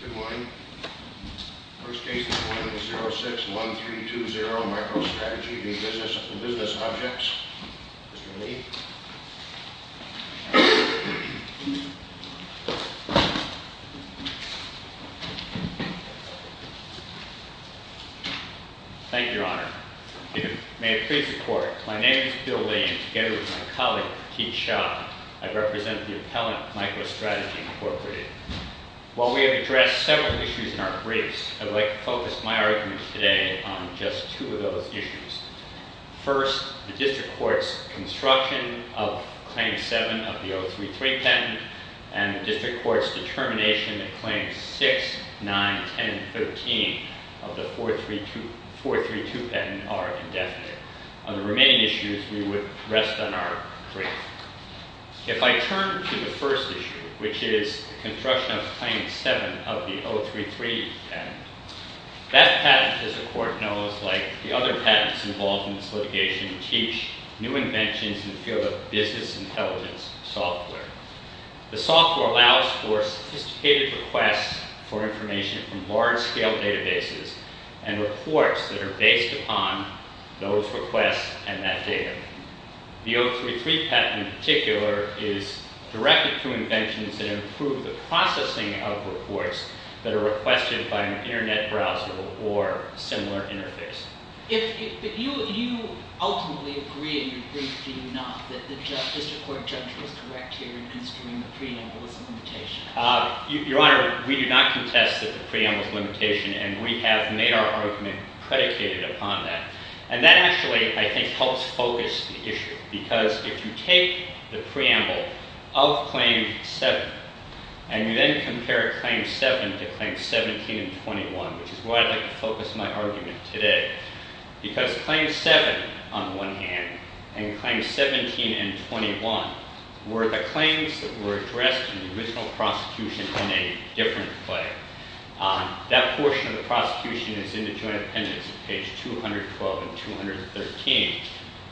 Good morning. The first case is 4806-1320, MicroStrategy v. Business Objects. Mr. Lee. Thank you, Your Honor. May I please report, my name is Bill Lee, and together with my colleague, Keith Sharp, I represent the appellant, MicroStrategy Incorporated. While we have addressed several issues in our briefs, I would like to focus my arguments today on just two of those issues. First, the District Court's construction of Claim 7 of the 033 patent and the District Court's determination that Claims 6, 9, 10, 13 of the 432 patent are indefinite. On the remaining issues, we would rest on our brief. If I turn to the first issue, which is the construction of Claim 7 of the 033 patent, that patent, as the Court knows, like the other patents involved in this litigation, teach new inventions in the field of business intelligence software. The software allows for sophisticated requests for information from large-scale databases and reports that are based upon those requests and that data. The 033 patent, in particular, is directed to inventions that improve the processing of reports that are requested by an internet browser or similar interface. But you ultimately agree in your brief, do you not, that the District Court judge was correct here in considering the preamble as a limitation? Your Honor, we do not contest that the preamble is a limitation, and we have made our argument predicated upon that. And that actually, I think, helps focus the issue, because if you take the preamble of Claim 7 and you then compare Claim 7 to Claims 17 and 21, which is why I'd like to focus my argument today, because Claim 7, on the one hand, and Claims 17 and 21 were the claims that were addressed in the original prosecution in a different way. That portion of the prosecution is in the Joint Appendix, page 212 and 213.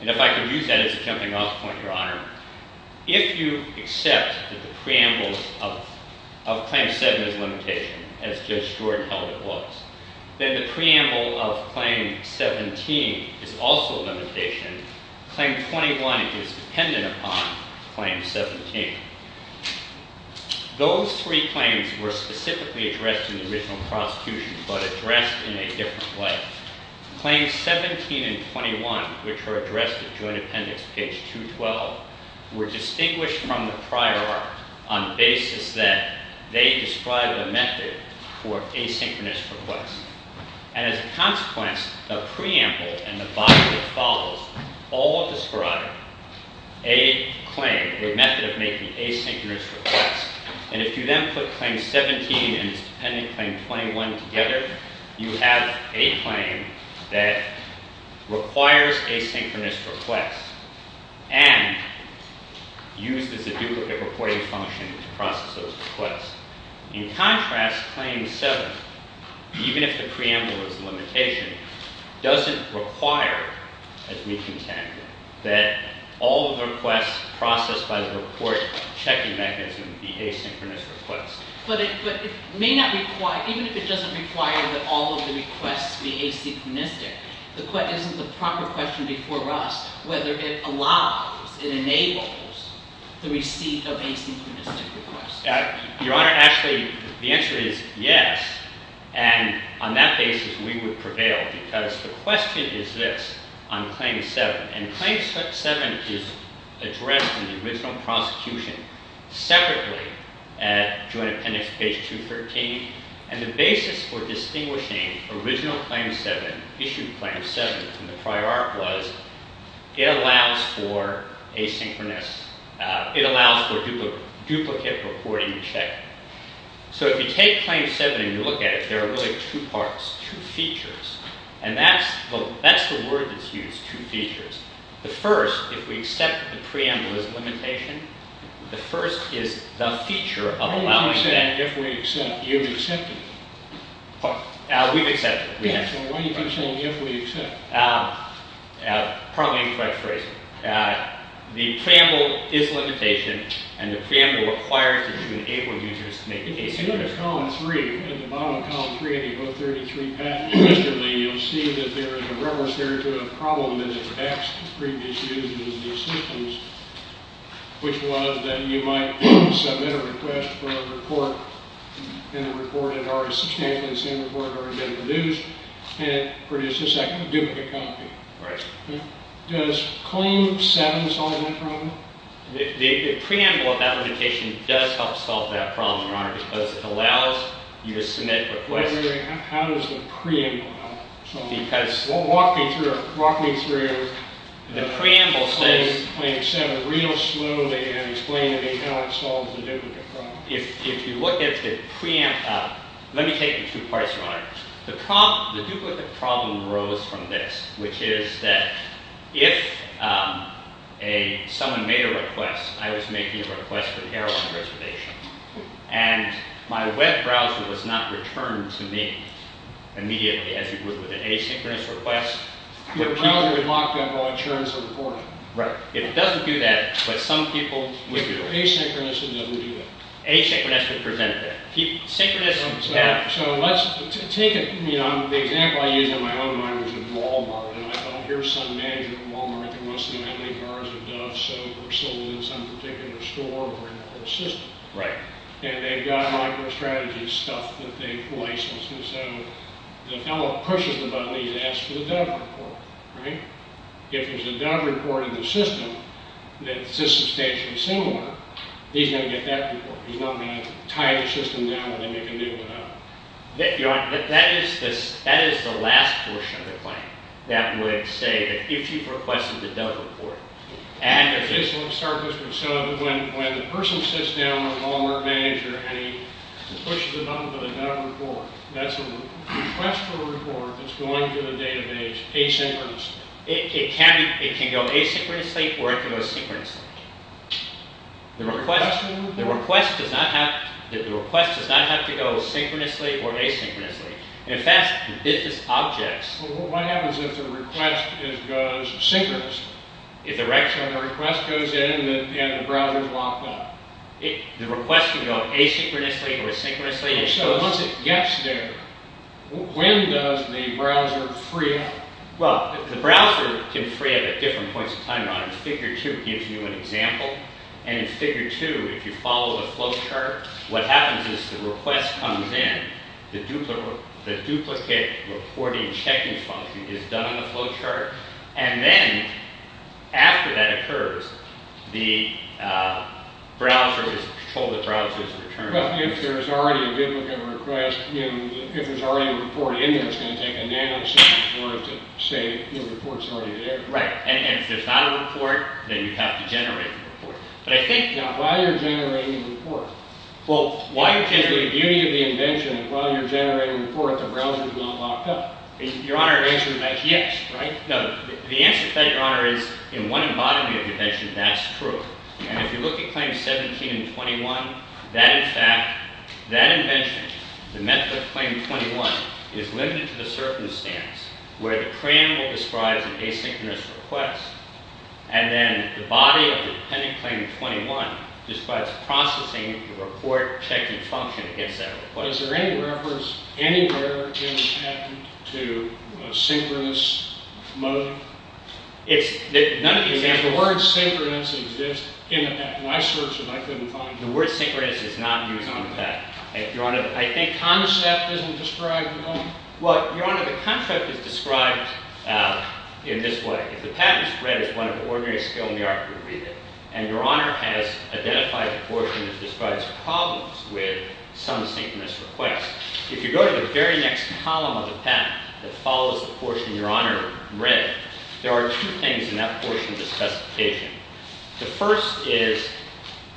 And if I could use that as a jumping-off point, Your Honor, if you accept that the preamble of Claim 7 is a limitation, as Judge Jordan held it was, then the preamble of Claim 17 is also a limitation. Claim 21 is dependent upon Claim 17. Those three claims were specifically addressed in the original prosecution, but addressed in a different way. Claims 17 and 21, which were addressed in the Joint Appendix, page 212, were distinguished from the prior art on the basis that they describe a method for asynchronous requests. And as a consequence, the preamble and the body that follows all describe a claim, a method of making asynchronous requests. And if you then put Claim 17 and its dependent Claim 21 together, you have a claim that requires asynchronous requests and used as a duplicate reporting function to process those requests. In contrast, Claim 7, even if the preamble is a limitation, doesn't require, as we contend, that all of the requests processed by the report checking mechanism be asynchronous requests. But it may not require – even if it doesn't require that all of the requests be asynchronous, the question – isn't the proper question before us whether it allows, it enables, the receipt of asynchronous requests. Your Honor, actually, the answer is yes. And on that basis, we would prevail because the question is this on Claim 7. And Claim 7 is addressed in the original prosecution separately at Joint Appendix, page 213. And the basis for distinguishing original Claim 7, issued Claim 7, from the prior arc was it allows for asynchronous – it allows for duplicate reporting to check. So if you take Claim 7 and you look at it, there are really two parts, two features. And that's the word that's used, two features. The first, if we accept the preamble as a limitation, the first is the feature of allowing that – Why do you keep saying if we accept? You've accepted it. We've accepted it. Yeah, so why do you keep saying if we accept? Probably incorrect phrase. The preamble is a limitation, and the preamble requires that you enable users to make asynchronous requests. If you look at Column 3, at the bottom of Column 3 of the O33 Patent Register, you'll see that there is a reference there to a problem that had previously been used in these systems, which was that you might submit a request for a report, and a report had already – substantially the same report had already been produced, and it produced a second duplicate copy. Right. Does Claim 7 solve that problem? The preamble of that limitation does help solve that problem, Your Honor, because it allows you to submit requests. How does the preamble solve it? Walk me through it. The preamble says – Claim 7, read it slowly and explain to me how it solves the duplicate problem. If you look at the preamble – let me take the two parts, Your Honor. The duplicate problem arose from this, which is that if someone made a request, I was making a request for the heroin reservation, and my web browser was not returned to me immediately, as you would with an asynchronous request. Your browser would lock down all insurance reporting. Right. If it doesn't do that, but some people would do it. Asynchronous would never do that. Asynchronous would prevent that. So let's take – the example I used in my own mind was in Wal-Mart, and I thought, here's some manager in Wal-Mart that wants to buy many cars of Dove soap, or sold in some particular store, or in a whole system. Right. And they've got micro-strategy stuff that they've licensed. And so the fellow pushes the button, he's asked for the Dove report, right? If there's a Dove report in the system that's substantially similar, he's going to get that report. He's not going to tie the system down and then make a new one out. That is the last portion of the claim that would say that if you've requested the Dove report, and – And this will start this with, so when the person sits down with a Wal-Mart manager and he pushes the button for the Dove report, that's a request for a report that's going through the database asynchronously. It can go asynchronously or it can go synchronously. The request does not have to go synchronously or asynchronously. In fact, the business objects – What happens if the request goes synchronously? If the request goes in and the browser's locked up? The request can go asynchronously or synchronously. So once it gets there, when does the browser free up? Well, the browser can free up at different points in time. Figure 2 gives you an example. And in Figure 2, if you follow the flowchart, what happens is the request comes in. The duplicate reporting checking function is done on the flowchart. And then after that occurs, the browser is told the browser's returned. But if there's already a duplicate request, if there's already a report in there, it's going to take a nanosecond for it to say the report's already there. Right, and if there's not a report, then you have to generate the report. But I think – Now, why are you generating the report? Well, why – Because the beauty of the invention is while you're generating the report, the browser's not locked up. Your Honor, the answer to that is yes, right? No, the answer to that, Your Honor, is in one embodiment of the invention, that's true. And if you look at Claim 17 and 21, that, in fact, that invention, the method of Claim 21, is limited to the circumstance where the cranimal describes an asynchronous request and then the body of the dependent Claim 21 describes processing the report checking function against that request. Is there any reference anywhere in the patent to a synchronous mode? It's – none of the examples – Does the word synchronous exist in the patent? I searched and I couldn't find it. The word synchronous is not used on the patent. Your Honor, I think – Concept isn't described at all. Well, Your Honor, the concept is described in this way. If the patent is read as one of the ordinary skill in the art to read it, and Your Honor has identified a portion that describes problems with some synchronous requests, if you go to the very next column of the patent that follows the portion Your Honor read, there are two things in that portion of the specification. The first is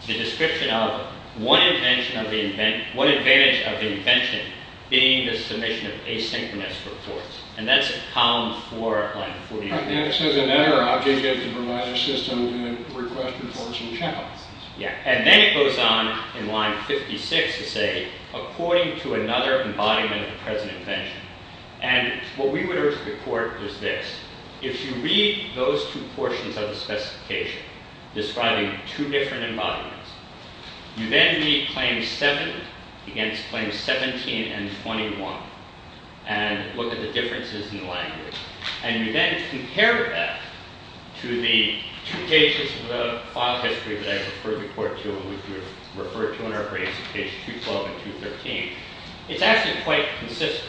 the description of one advantage of the invention being the submission of asynchronous reports. And that's column 4, line 44. And it says, an error object is to provide a system that requests reports and counts. And then it goes on in line 56 to say, according to another embodiment of the present invention. And what we would urge the court is this. If you read those two portions of the specification describing two different embodiments, you then read claim 7 against claims 17 and 21 and look at the differences in language. And you then compare that to the two pages of the file history that I referred the court to and referred to in our briefs, page 212 and 213. It's actually quite consistent.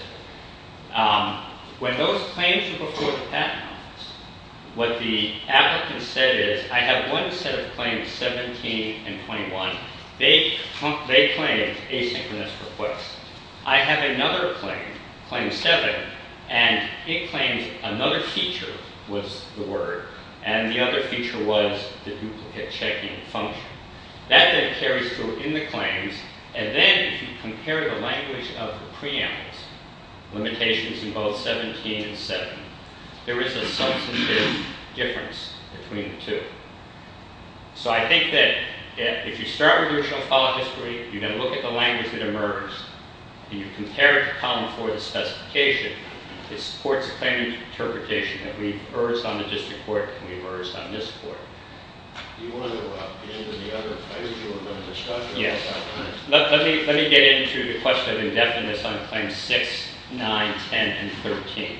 When those claims were before the patent office, what the applicant said is, I have one set of claims, 17 and 21. They claim asynchronous requests. I have another claim, claim 7. And it claims another feature was the word. And the other feature was the duplicate checking function. That then carries through in the claims. And then if you compare the language of the preambles, limitations in both 17 and 7, there is a substantive difference between the two. So I think that if you start with original file history, you then look at the language that emerged, and you compare it to column 4 of the specification, it supports the claim interpretation that we've urged on the district court and we've urged on this court. Do you want to go up into the other pages you were going to discuss? Yes. Let me get into the question of indefiniteness on claims 6, 9, 10, and 13.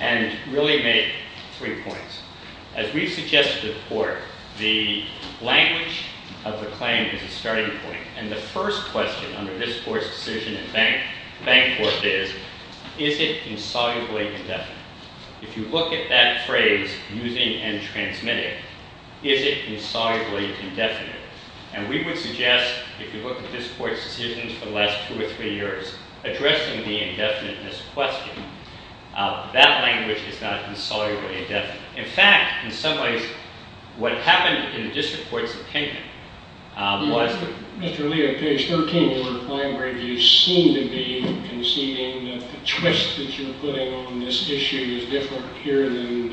And really make three points. As we've suggested to the court, the language of the claim is a starting point. And the first question under this court's decision in bank court is, is it insolubly indefinite? If you look at that phrase, using and transmitting, is it insolubly indefinite? And we would suggest if you look at this court's decisions for the last two or three years, addressing the indefiniteness question, that language is not insolubly indefinite. In fact, in some ways, what happened in the district court's opinion was Mr. Lee, on page 13 of your claim review, you seem to be conceding that the twist that you're putting on this issue is different here than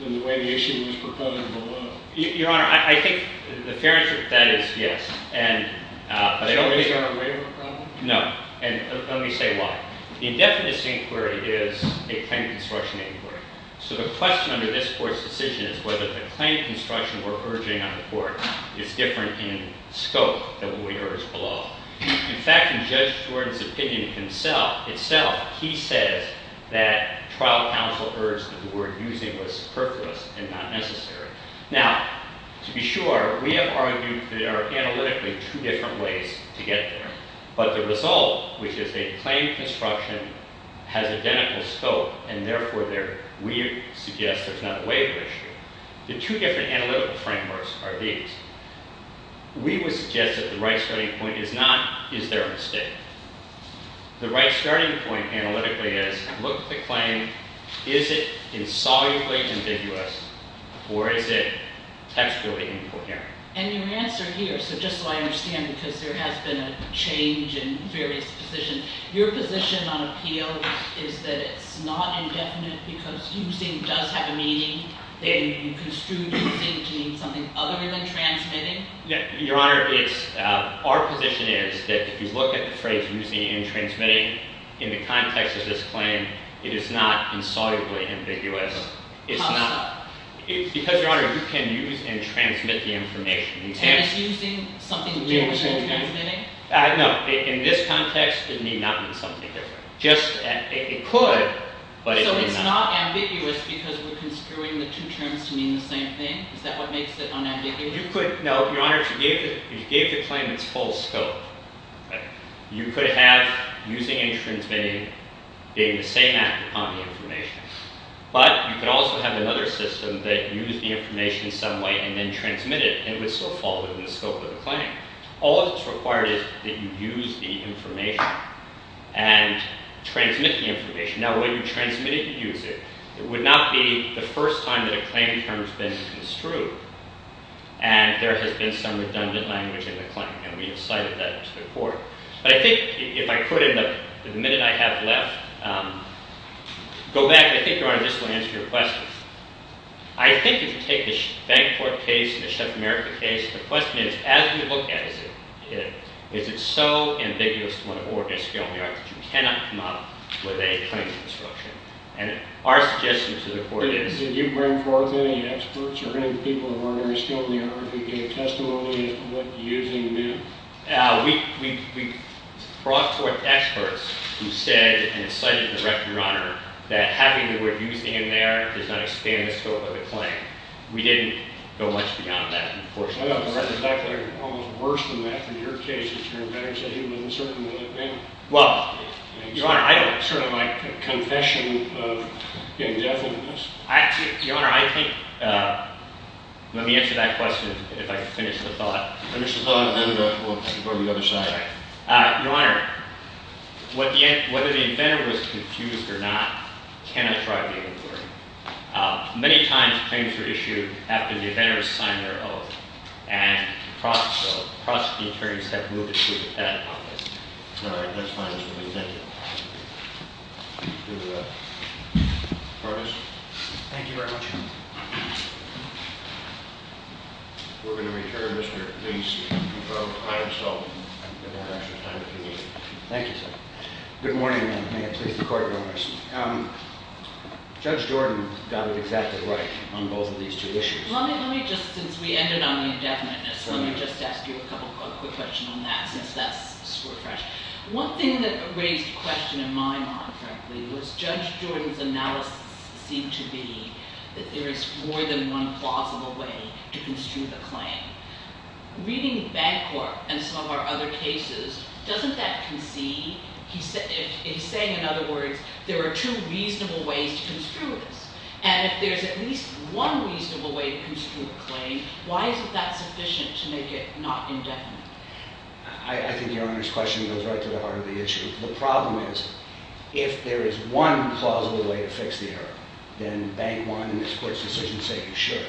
the way the issue was proposed below. Your Honor, I think the fair answer to that is yes. So is there a waiver problem? No. And let me say why. The indefiniteness inquiry is a claim construction inquiry. So the question under this court's decision is whether the claim construction we're urging on the court is different in scope than what we urged below. In fact, in Judge Jordan's opinion himself, he says that trial counsel urged that the word using was superfluous and not necessary. Now, to be sure, we have argued there are analytically two different ways to get there. But the result, which is a claim construction, has identical scope, and therefore we suggest there's not a waiver issue. The two different analytical frameworks are these. We would suggest that the right starting point is not is there a mistake. The right starting point analytically is look at the claim. Is it insolubly ambiguous, or is it textually incoherent? And your answer here, so just so I understand, because there has been a change in various positions, your position on appeal is that it's not indefinite because using does have a meaning. That you construed using to mean something other than transmitting? Your Honor, our position is that if you look at the phrase using and transmitting, in the context of this claim, it is not insolubly ambiguous. How so? Because, Your Honor, you can use and transmit the information. And it's using something different than transmitting? No. In this context, it may not mean something different. It could, but it may not. So it's not ambiguous because we're construing the two terms to mean the same thing? Is that what makes it unambiguous? No. Your Honor, if you gave the claim its full scope, you could have using and transmitting being the same act upon the information. But you could also have another system that used the information some way and then transmitted it, and it would still fall within the scope of the claim. All that's required is that you use the information and transmit the information. Now, when you transmit it, you use it. It would not be the first time that a claim term has been construed and there has been some redundant language in the claim. And we have cited that to the court. But I think if I could, in the minute I have left, go back. I think, Your Honor, this will answer your question. I think if you take the Bankport case and the Chef America case, the question is, as we look at it, is it so ambiguous to want to organize a felony act that you cannot come up with a claim to destruction? And our suggestion to the court is— Did you bring forth any experts or any people of ordinary skill in the area who gave testimony of what using meant? We brought forth experts who said and cited the record, Your Honor, that having the word using in there does not expand the scope of the claim. We didn't go much beyond that, unfortunately. I know, but the fact that it's almost worse than that, in your case, is that your inventors are human and circumvent that ban. Well, Your Honor, I don't— Sort of like a confession of indefiniteness. Your Honor, I think—let me answer that question if I can finish the thought. Finish the thought and then we'll go to the other side. Your Honor, whether the inventor was confused or not cannot drive the inquiry. Many times, claims are issued after the inventor has signed their oath. And across the attorneys have moved it to that office. All right, that's fine. That's what we think. Thank you. Curtis? Thank you very much, Your Honor. We're going to return Mr. Leese to control time, so I'm going to have extra time if you need me. Thank you, sir. Good morning, and may it please the Court, Your Honor. Judge Jordan got it exactly right on both of these two issues. Let me just—since we ended on the indefiniteness, let me just ask you a couple—a quick question on that since that's sort of fresh. One thing that raised a question in my mind, frankly, was Judge Jordan's analysis seemed to be that there is more than one plausible way to construe the claim. Reading Bancorp and some of our other cases, doesn't that concede? He's saying, in other words, there are two reasonable ways to construe this. And if there's at least one reasonable way to construe a claim, why isn't that sufficient to make it not indefinite? I think Your Honor's question goes right to the heart of the issue. The problem is, if there is one plausible way to fix the error, then Bank One and this Court's decision say you should.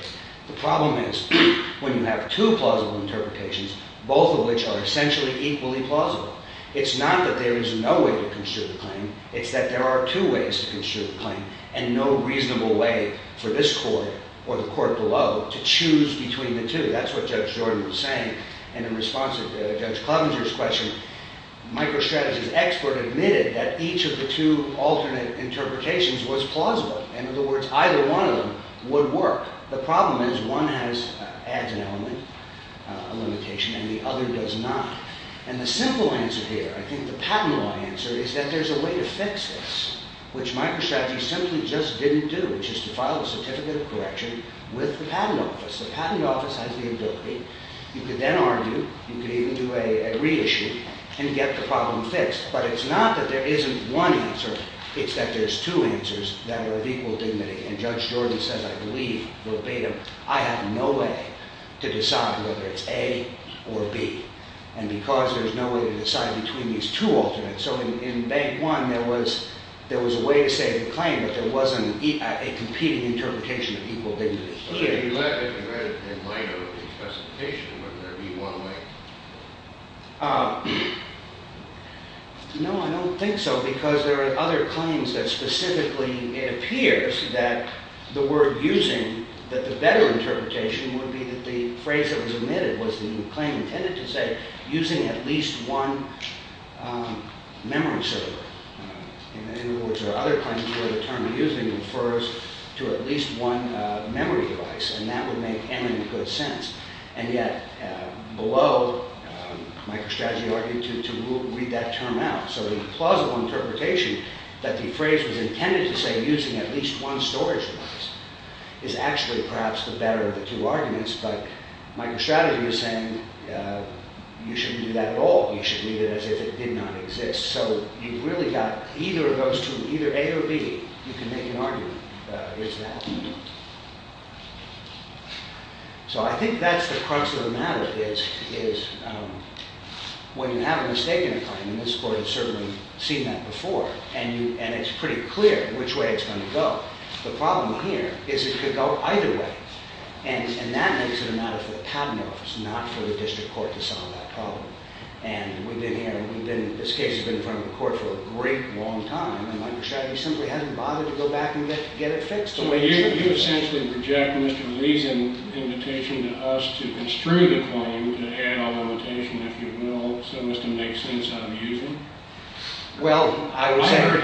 The problem is, when you have two plausible interpretations, both of which are essentially equally plausible, it's not that there is no way to construe the claim. It's that there are two ways to construe the claim, and no reasonable way for this Court or the Court below to choose between the two. That's what Judge Jordan was saying. And in response to Judge Clevenger's question, MicroStrategy's expert admitted that each of the two alternate interpretations was plausible. In other words, either one of them would work. The problem is, one adds an element, a limitation, and the other does not. And the simple answer here, I think the patent law answer, is that there's a way to fix this, which MicroStrategy simply just didn't do, which is to file a certificate of correction with the patent office. The patent office has the ability. You could then argue. You could even do a reissue and get the problem fixed. But it's not that there isn't one answer. It's that there's two answers that are of equal dignity. And Judge Jordan says, I believe, verbatim, I have no way to decide whether it's A or B. And because there's no way to decide between these two alternates. So in Bank One, there was a way to say the claim, but there wasn't a competing interpretation of equal dignity. But if you had it in light of the specification, wouldn't there be one way? No, I don't think so, because there are other claims that specifically it appears that the word using, that the better interpretation would be that the phrase that was omitted was the claim intended to say using at least one memory server. In other words, there are other claims where the term using refers to at least one memory device. And that would make eminent good sense. And yet, below, MicroStrategy argued to read that term out. So the plausible interpretation that the phrase was intended to say using at least one storage device is actually, perhaps, the better of the two arguments. But MicroStrategy is saying you shouldn't do that at all. You should leave it as if it did not exist. So you've really got either of those two, either A or B. You can make an argument. It's that. So I think that's the crux of the matter, is when you have a mistake in a claim, and this court has certainly seen that before, and it's pretty clear which way it's going to go. The problem here is it could go either way. And that makes it a matter for the cabinet office, not for the district court, to solve that problem. And this case has been in front of the court for a great long time, and MicroStrategy simply hasn't bothered to go back and get it fixed the way it should. So you essentially project Mr. Lee's invitation to us to construe the claim to add a limitation, if you will, so as to make sense of using? Well, I would say... I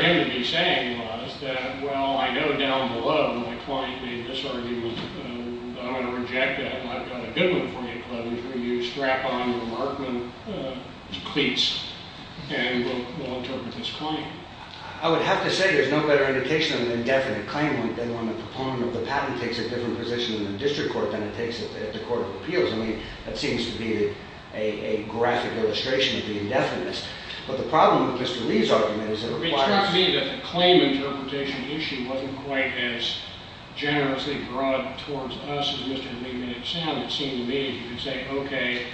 would have to say there's no better indication of an indefinite claim than when the proponent of the patent takes a different position in the district court than it takes at the court of appeals. I mean, that seems to be a graphic illustration of the indefinites. But the problem with Mr. Lee's argument is that it requires... It struck me that the claim interpretation issue wasn't quite as generously brought towards us as Mr. Ligman and Sam. It seemed to me you could say, okay,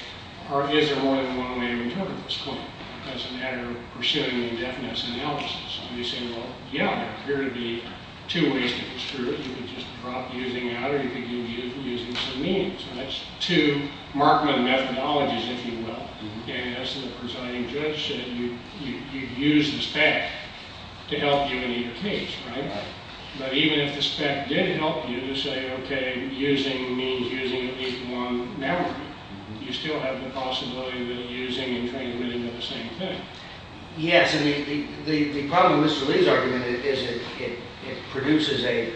is there more than one way to interpret this claim as a matter of pursuing an indefinites analysis? And you say, well, yeah, there appear to be two ways to construe it. You could just drop using out, or you could give using some meaning. So that's two Markman methodologies, if you will. I mean, as the presiding judge said, you use the spec to help you in either case, right? Right. But even if the spec did help you to say, okay, using means using at least one network, you still have the possibility of using and trying to really do the same thing. Yes, I mean, the problem with Mr. Lee's argument is it produces a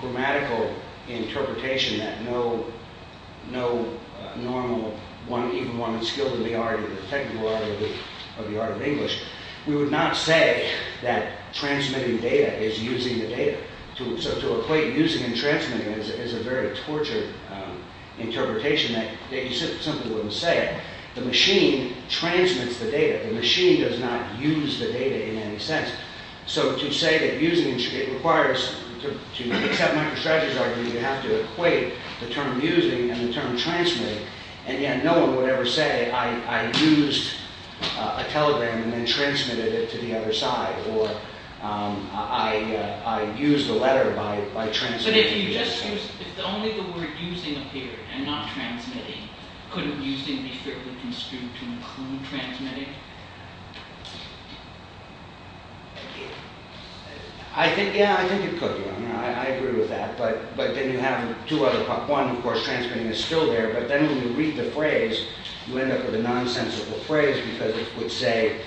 grammatical interpretation that no normal, even one skilled in the art, in the technical art of the art of English, we would not say that transmitting data is using the data. So to equate using and transmitting is a very tortured interpretation that you simply wouldn't say. The machine transmits the data. The machine does not use the data in any sense. So to say that using... It requires, to accept Michael Stratter's argument, you have to equate the term using and the term transmitting, and yet no one would ever say, I used a telegram and then transmitted it to the other side, or I used the letter by transmitting. But if you just used... If only the word using appeared and not transmitting, could using be fairly construed to include transmitting? I think, yeah, I think it could be. I mean, I agree with that. But then you have two other... One, of course, transmitting is still there, but then when you read the phrase, you end up with a nonsensical phrase because it would say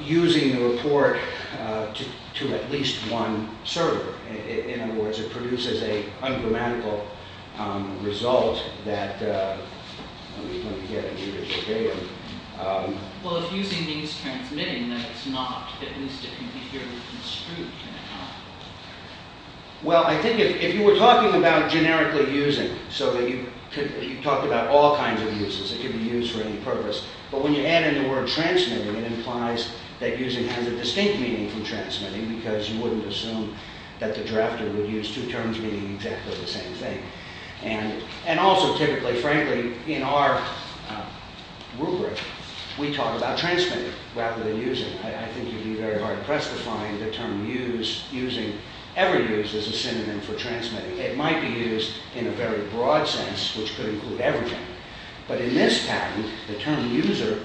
using the report to at least one server. In other words, it produces a ungrammatical result that we don't get in the original data. Well, if using means transmitting, then it's not, at least it can be fairly construed, can it not? Well, I think if you were talking about generically using, so that you could talk about all kinds of uses, it could be used for any purpose. But when you add in the word transmitting, it implies that using has a distinct meaning from transmitting because you wouldn't assume that the drafter would use two terms meaning exactly the same thing. And also, typically, frankly, in our rubric, we talk about transmitting rather than using. I think you'd be very hard-pressed to find the term using ever used as a synonym for transmitting. It might be used in a very broad sense, which could include everything. But in this pattern, the term user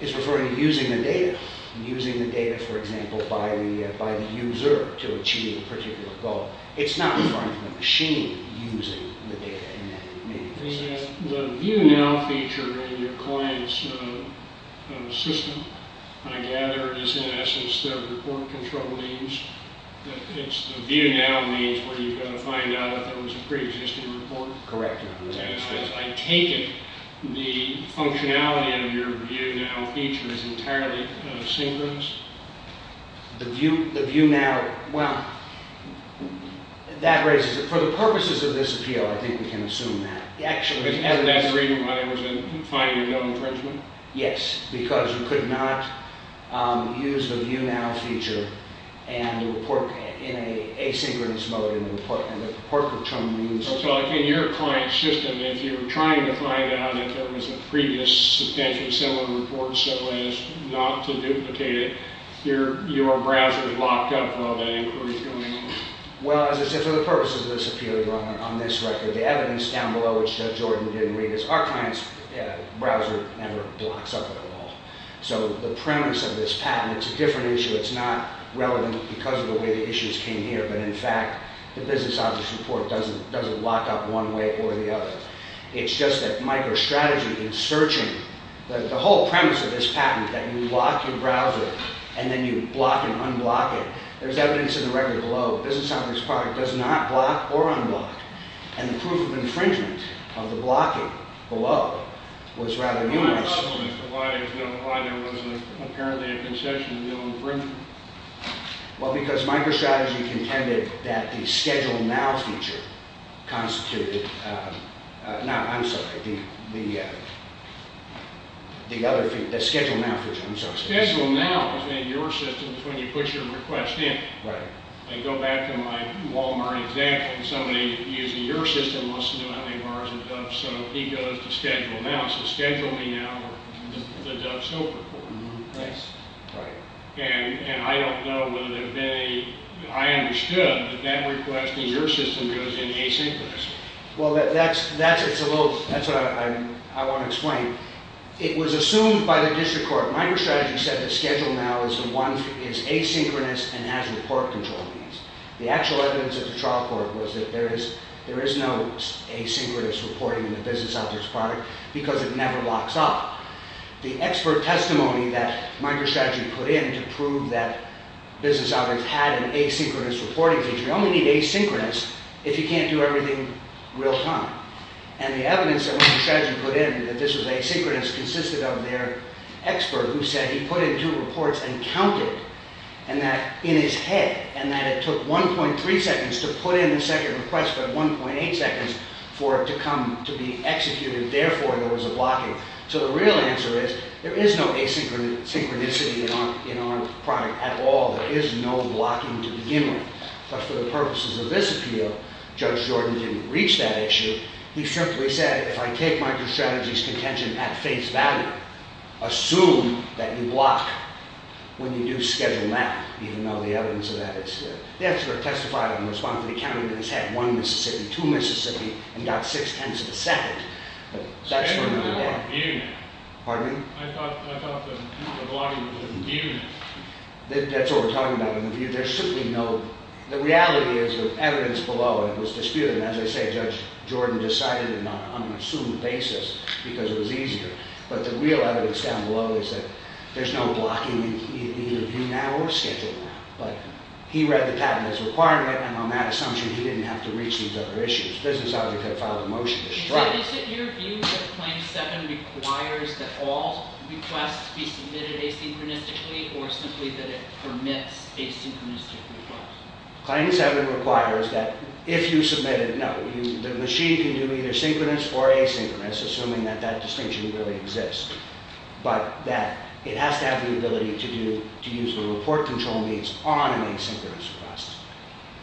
is referring to using the data. Using the data, for example, by the user to achieve a particular goal. It's not referring to a machine using the data. The view now feature in your client's system, I gather, is in essence the report control means. It's the view now means where you've got to find out if there was a pre-existing report. Correct. I take it the functionality of your view now feature is entirely synchronous. The view now, well, that raises it. For the purposes of this appeal, I think we can assume that. Is that the reason why there was a finding of infringement? Yes, because you could not use the view now feature and report in an asynchronous mode in the report. And the report control means... So, like, in your client's system, if you're trying to find out if there was a previous substantially similar report so as not to duplicate it, your browser is locked up while the inquiry is going on? Well, as I said, for the purposes of this appeal, on this record, the evidence down below, which Judge Jordan didn't read, is our client's browser never blocks up at all. So the premise of this patent, it's a different issue. It's not relevant because of the way the issues came here. But, in fact, the business object report doesn't lock up one way or the other. It's just that microstrategy in searching, the whole premise of this patent, that you lock your browser and then you block and unblock it, there's evidence in the record below business object's product does not block or unblock. And the proof of infringement of the blocking below was rather numerous. My problem is why there was apparently a concession to the infringement. Well, because microstrategy contended that the schedule now feature constituted... No, I'm sorry, the schedule now feature. I'm sorry. Schedule now in your system is when you put your request in. Right. I go back to my Walmart example. Somebody using your system wants to know how many bars of dub soap he goes to schedule now. So schedule me now or the dub soap report. Right. And I don't know whether there have been any... I understood that that request in your system goes in asynchronous. Well, that's a little... That's what I want to explain. It was assumed by the district court, microstrategy said the schedule now is asynchronous and has report control means. The actual evidence at the trial court was that there is no asynchronous reporting in the business object's product because it never locks up. The expert testimony that microstrategy put in to prove that business object had an asynchronous reporting feature, you only need asynchronous if you can't do everything real time. And the evidence that microstrategy put in that this was asynchronous consisted of their expert who said he put in two reports and counted and that in his head and that it took 1.3 seconds to put in the second request but 1.8 seconds for it to come to be executed. Therefore, there was a blocking. So the real answer is there is no asynchronicity in our product at all. There is no blocking to begin with. But for the purposes of this appeal, Judge Jordan didn't reach that issue. He simply said if I take microstrategy's contention at face value, assume that you block when you do schedule now even though the evidence of that is there. The expert testified in response that he counted in his head one Mississippi, two Mississippi and got six tenths of a second. But that's for another day. Pardon me? That's what we're talking about. The reality is the evidence below it was disputed. As I say, Judge Jordan decided on an unassumed basis because it was easier. But the real evidence down below is that there's no blocking in either view now or schedule now. But he read the patent as a requirement and on that assumption he didn't have to reach these other issues. The business object had filed a motion to strike. Is it your view that Claim 7 requires that all requests be submitted asynchronistically or simply that it permits asynchronous requests? Claim 7 requires that if you submit it, no. The machine can do either synchronous or asynchronous assuming that that distinction really exists. But that it has to have the ability to do to use the report control means on an asynchronous request.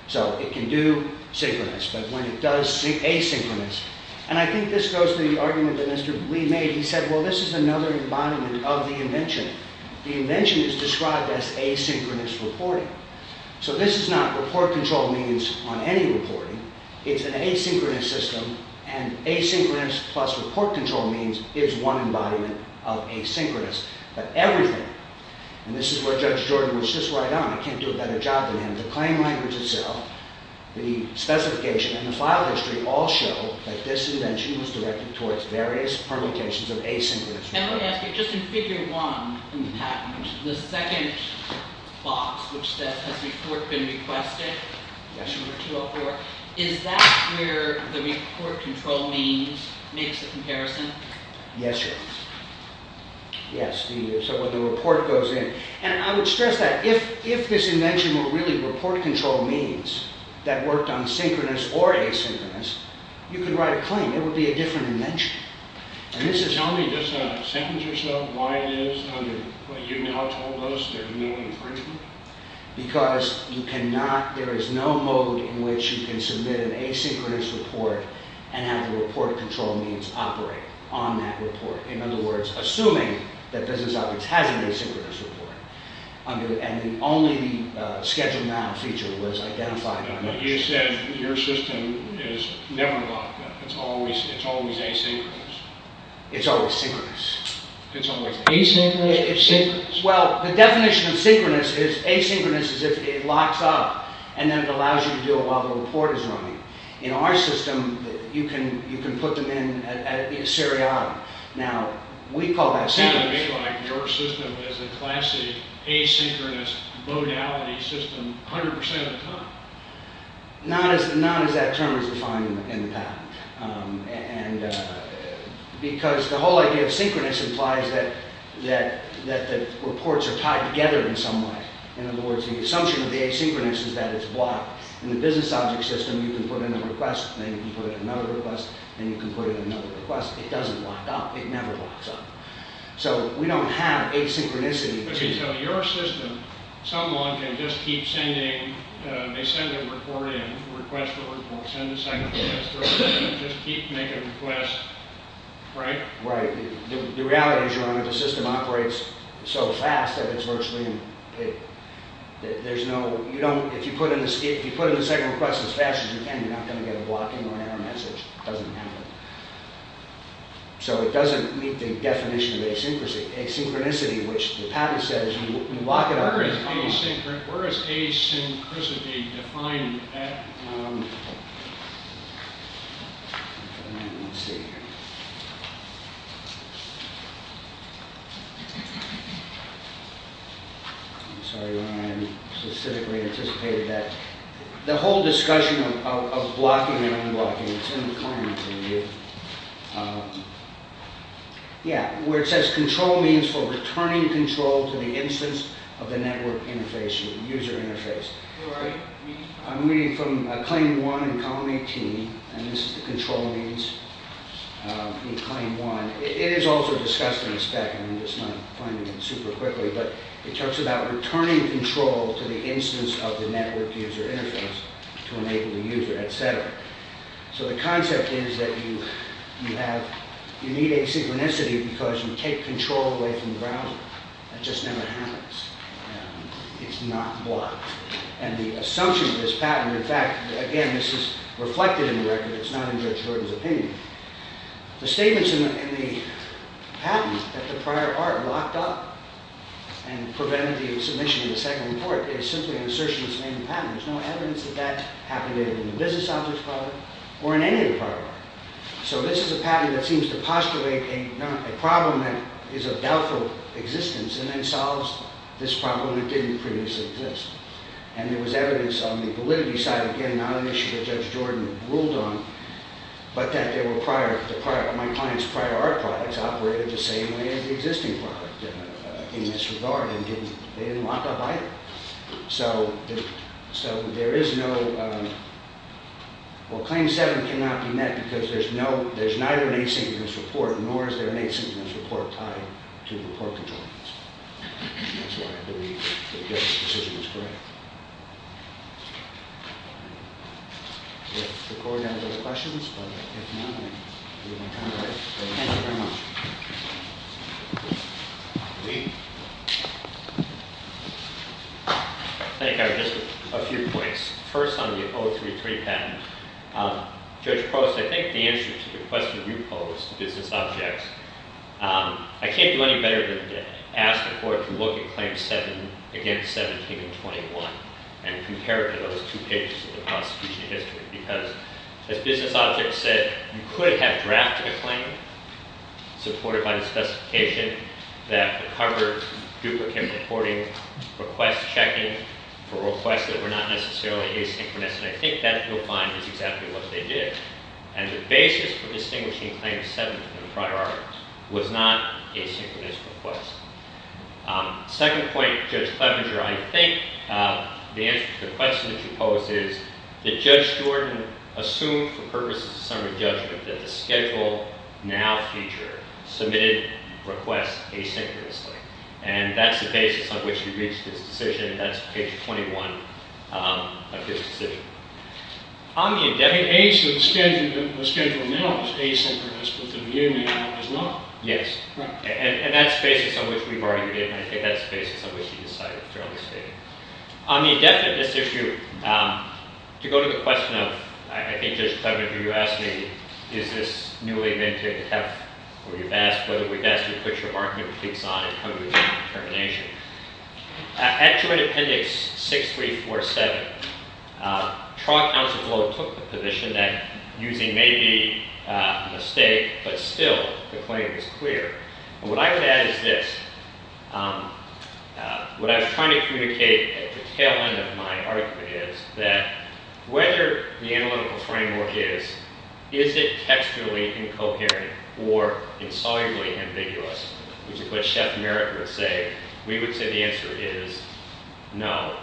So it can do synchronous but when it does asynchronous and I think this goes to the argument that Mr. Blee made. He said, well this is another embodiment of the invention. The invention is described as asynchronous reporting. So this is not report control means on any reporting. It's an asynchronous system and asynchronous plus report control means is one embodiment of asynchronous. But everything, and this is where Judge Jordan was just right on. I can't do a better job than him. The claim language itself, the specification and the file history all show that this invention was directed towards various permutations of asynchronous reporting. Can I ask you, just in figure one in the patent, the second box which says has report been requested? Yes. Number 204. Is that where the report control means makes a comparison? Yes, your honor. Yes, so where the report goes in. And I would stress that if this invention were really report control means that worked on synchronous or asynchronous you could write a claim. It would be a different invention. Tell me just a second or so why it is under what you now told us there's no infringement? Because you cannot, there is no mode in which you can submit an asynchronous report and have the report control means operate on that report. In other words, assuming that business operates, has an asynchronous report and only the schedule now feature was identified. You said your system is never locked up. It's always asynchronous. It's always synchronous. It's always asynchronous or synchronous? Well, the definition of synchronous is asynchronous is if it locks up and then it allows you to do it while the report is running. In our system, you can put them in seriatim. Now, we call that synchronous. Sounds to me like your system is a classic asynchronous modality system 100% of the time. Not as that term is defined in the patent. Because the whole idea of synchronous implies that the reports are tied together in some way. In other words, the assumption of the asynchronous is that it's blocked. In the business object system, you can put in a request and then you can put in another request and you can put in another request. It doesn't lock up. It never locks up. So, we don't have asynchronicity. Okay, so your system, someone can just keep sending, they send a report in, request the report, and just keep making requests, right? Right. The reality is, Your Honor, the system operates so fast that it's virtually, there's no, you don't, if you put in the second request as fast as you can, you're not going to get a blocking or error message. It doesn't happen. So, it doesn't meet the definition of asynchronicity, which the patent says, you lock it up. Where is asynchronicity defined in the patent? Let's see here. I'm sorry, Your Honor, I didn't specifically anticipate that. The whole discussion of blocking and unblocking, it's in the client's review. Yeah, where it says, control means for returning control to the instance of the network interface, user interface. I'm reading from Claim 1 in Column 18, and this is the control means in Claim 1. It is also discussed in the spec, I'm just not finding it super quickly, but it talks about returning control to the instance of the network user interface to enable the user, et cetera. So, the concept is that you have, you need asynchronicity because you take control away from the browser. That just never happens. It's not blocked. And the assumption of this patent, in fact, again, this is reflected in the record, it's not in Judge Gordon's opinion. The statements in the patent that the prior art locked up and prevented the submission in the second report is simply an assertion that's made in the patent. There's no evidence that that happened in the business object product or in any of the prior art. So, this is a patent that seems to postulate a problem that is of doubtful existence and then solves this problem that didn't previously exist. And there was evidence on the validity side, again, not an issue that Judge Jordan ruled on, but that they were prior, my client's prior art products operated the same way as the existing product in this regard and they didn't lock up either. So, there is no, well, Claim 7 cannot be met because there's neither an asynchronous report nor is there an asynchronous report tied to the court controls. That's why I believe that Judge's decision is correct. If the court has other questions, but if not, I'll leave my time to it. Thank you very much. I think I have just a few points. First, on the 033 patent, Judge Post, I think the answer to the question you posed, to business objects, I can't do any better than to ask the court to look at Claims 7 against 17 and 21 and compare it to those two pages of the prosecution history because, as business objects said, you could have drafted a claim supported by the specification that the coverage, duplicate reporting, request checking for requests that were not necessarily asynchronous and I think that you'll find is exactly what they did. And the basis for distinguishing Claim 7 from the prior articles was not asynchronous requests. Second point, Judge Clevenger, I think the answer to the question that you posed is that Judge Steward assumed, for purposes of summary judgment, that the schedule now feature submitted requests asynchronously and that's the basis on which you reached this decision and that's page 21 of his decision. On the indefinite... The schedule now is asynchronous but the view now is not. Yes. And that's the basis on which we've argued it and I think that's the basis on which we decided to release it. On the indefiniteness issue, to go to the question of, I think, Judge Clevenger, you asked me, is this newly minted, or you've asked whether we'd ask you to put your marketing things on and come to a determination. At Joint Appendix 6347, trial counsel took the position that using may be a mistake but still the claim is clear. What I would add is this. What I was trying to communicate at the tail end of my argument is that whether the analytical framework is, is it textually incoherent or insolubly ambiguous, which is what Chef Merritt would say, we would say the answer is no.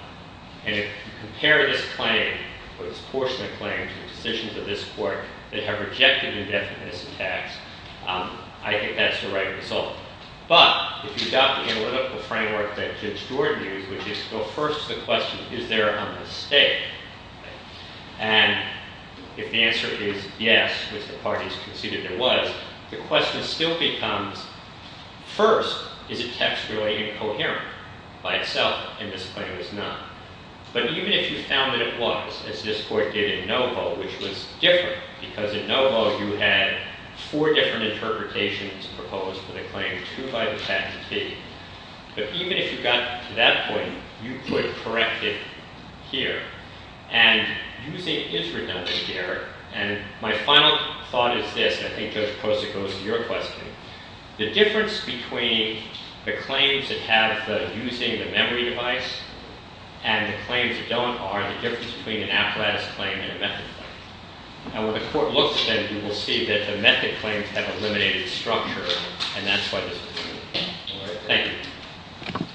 And if you compare this claim, or this portion of the claim, to the decisions of this Court that have rejected indefiniteness in tax, I think that's the right result. But if you adopt the analytical framework that Judge Jordan used, which is to go first to the question, is there a mistake? And if the answer is yes, which the parties conceded there was, the question still becomes, first, is it textually incoherent by itself and this claim is not. But even if you found that it was, as this Court did in NoVo, which was different, because in NoVo you had four different interpretations proposed for the claim, two by the patentee. But even if you got to that point, you could correct it here. And using is redundant here. And my final thought is this, and I think, Judge Posa, it goes to your question. The difference between the claims that have the using the memory device and the claims that don't are the difference between an apparatus claim and a method claim. And when the Court looks at them, you will see that the method claims have eliminated structure, and that's why this is true. Thank you.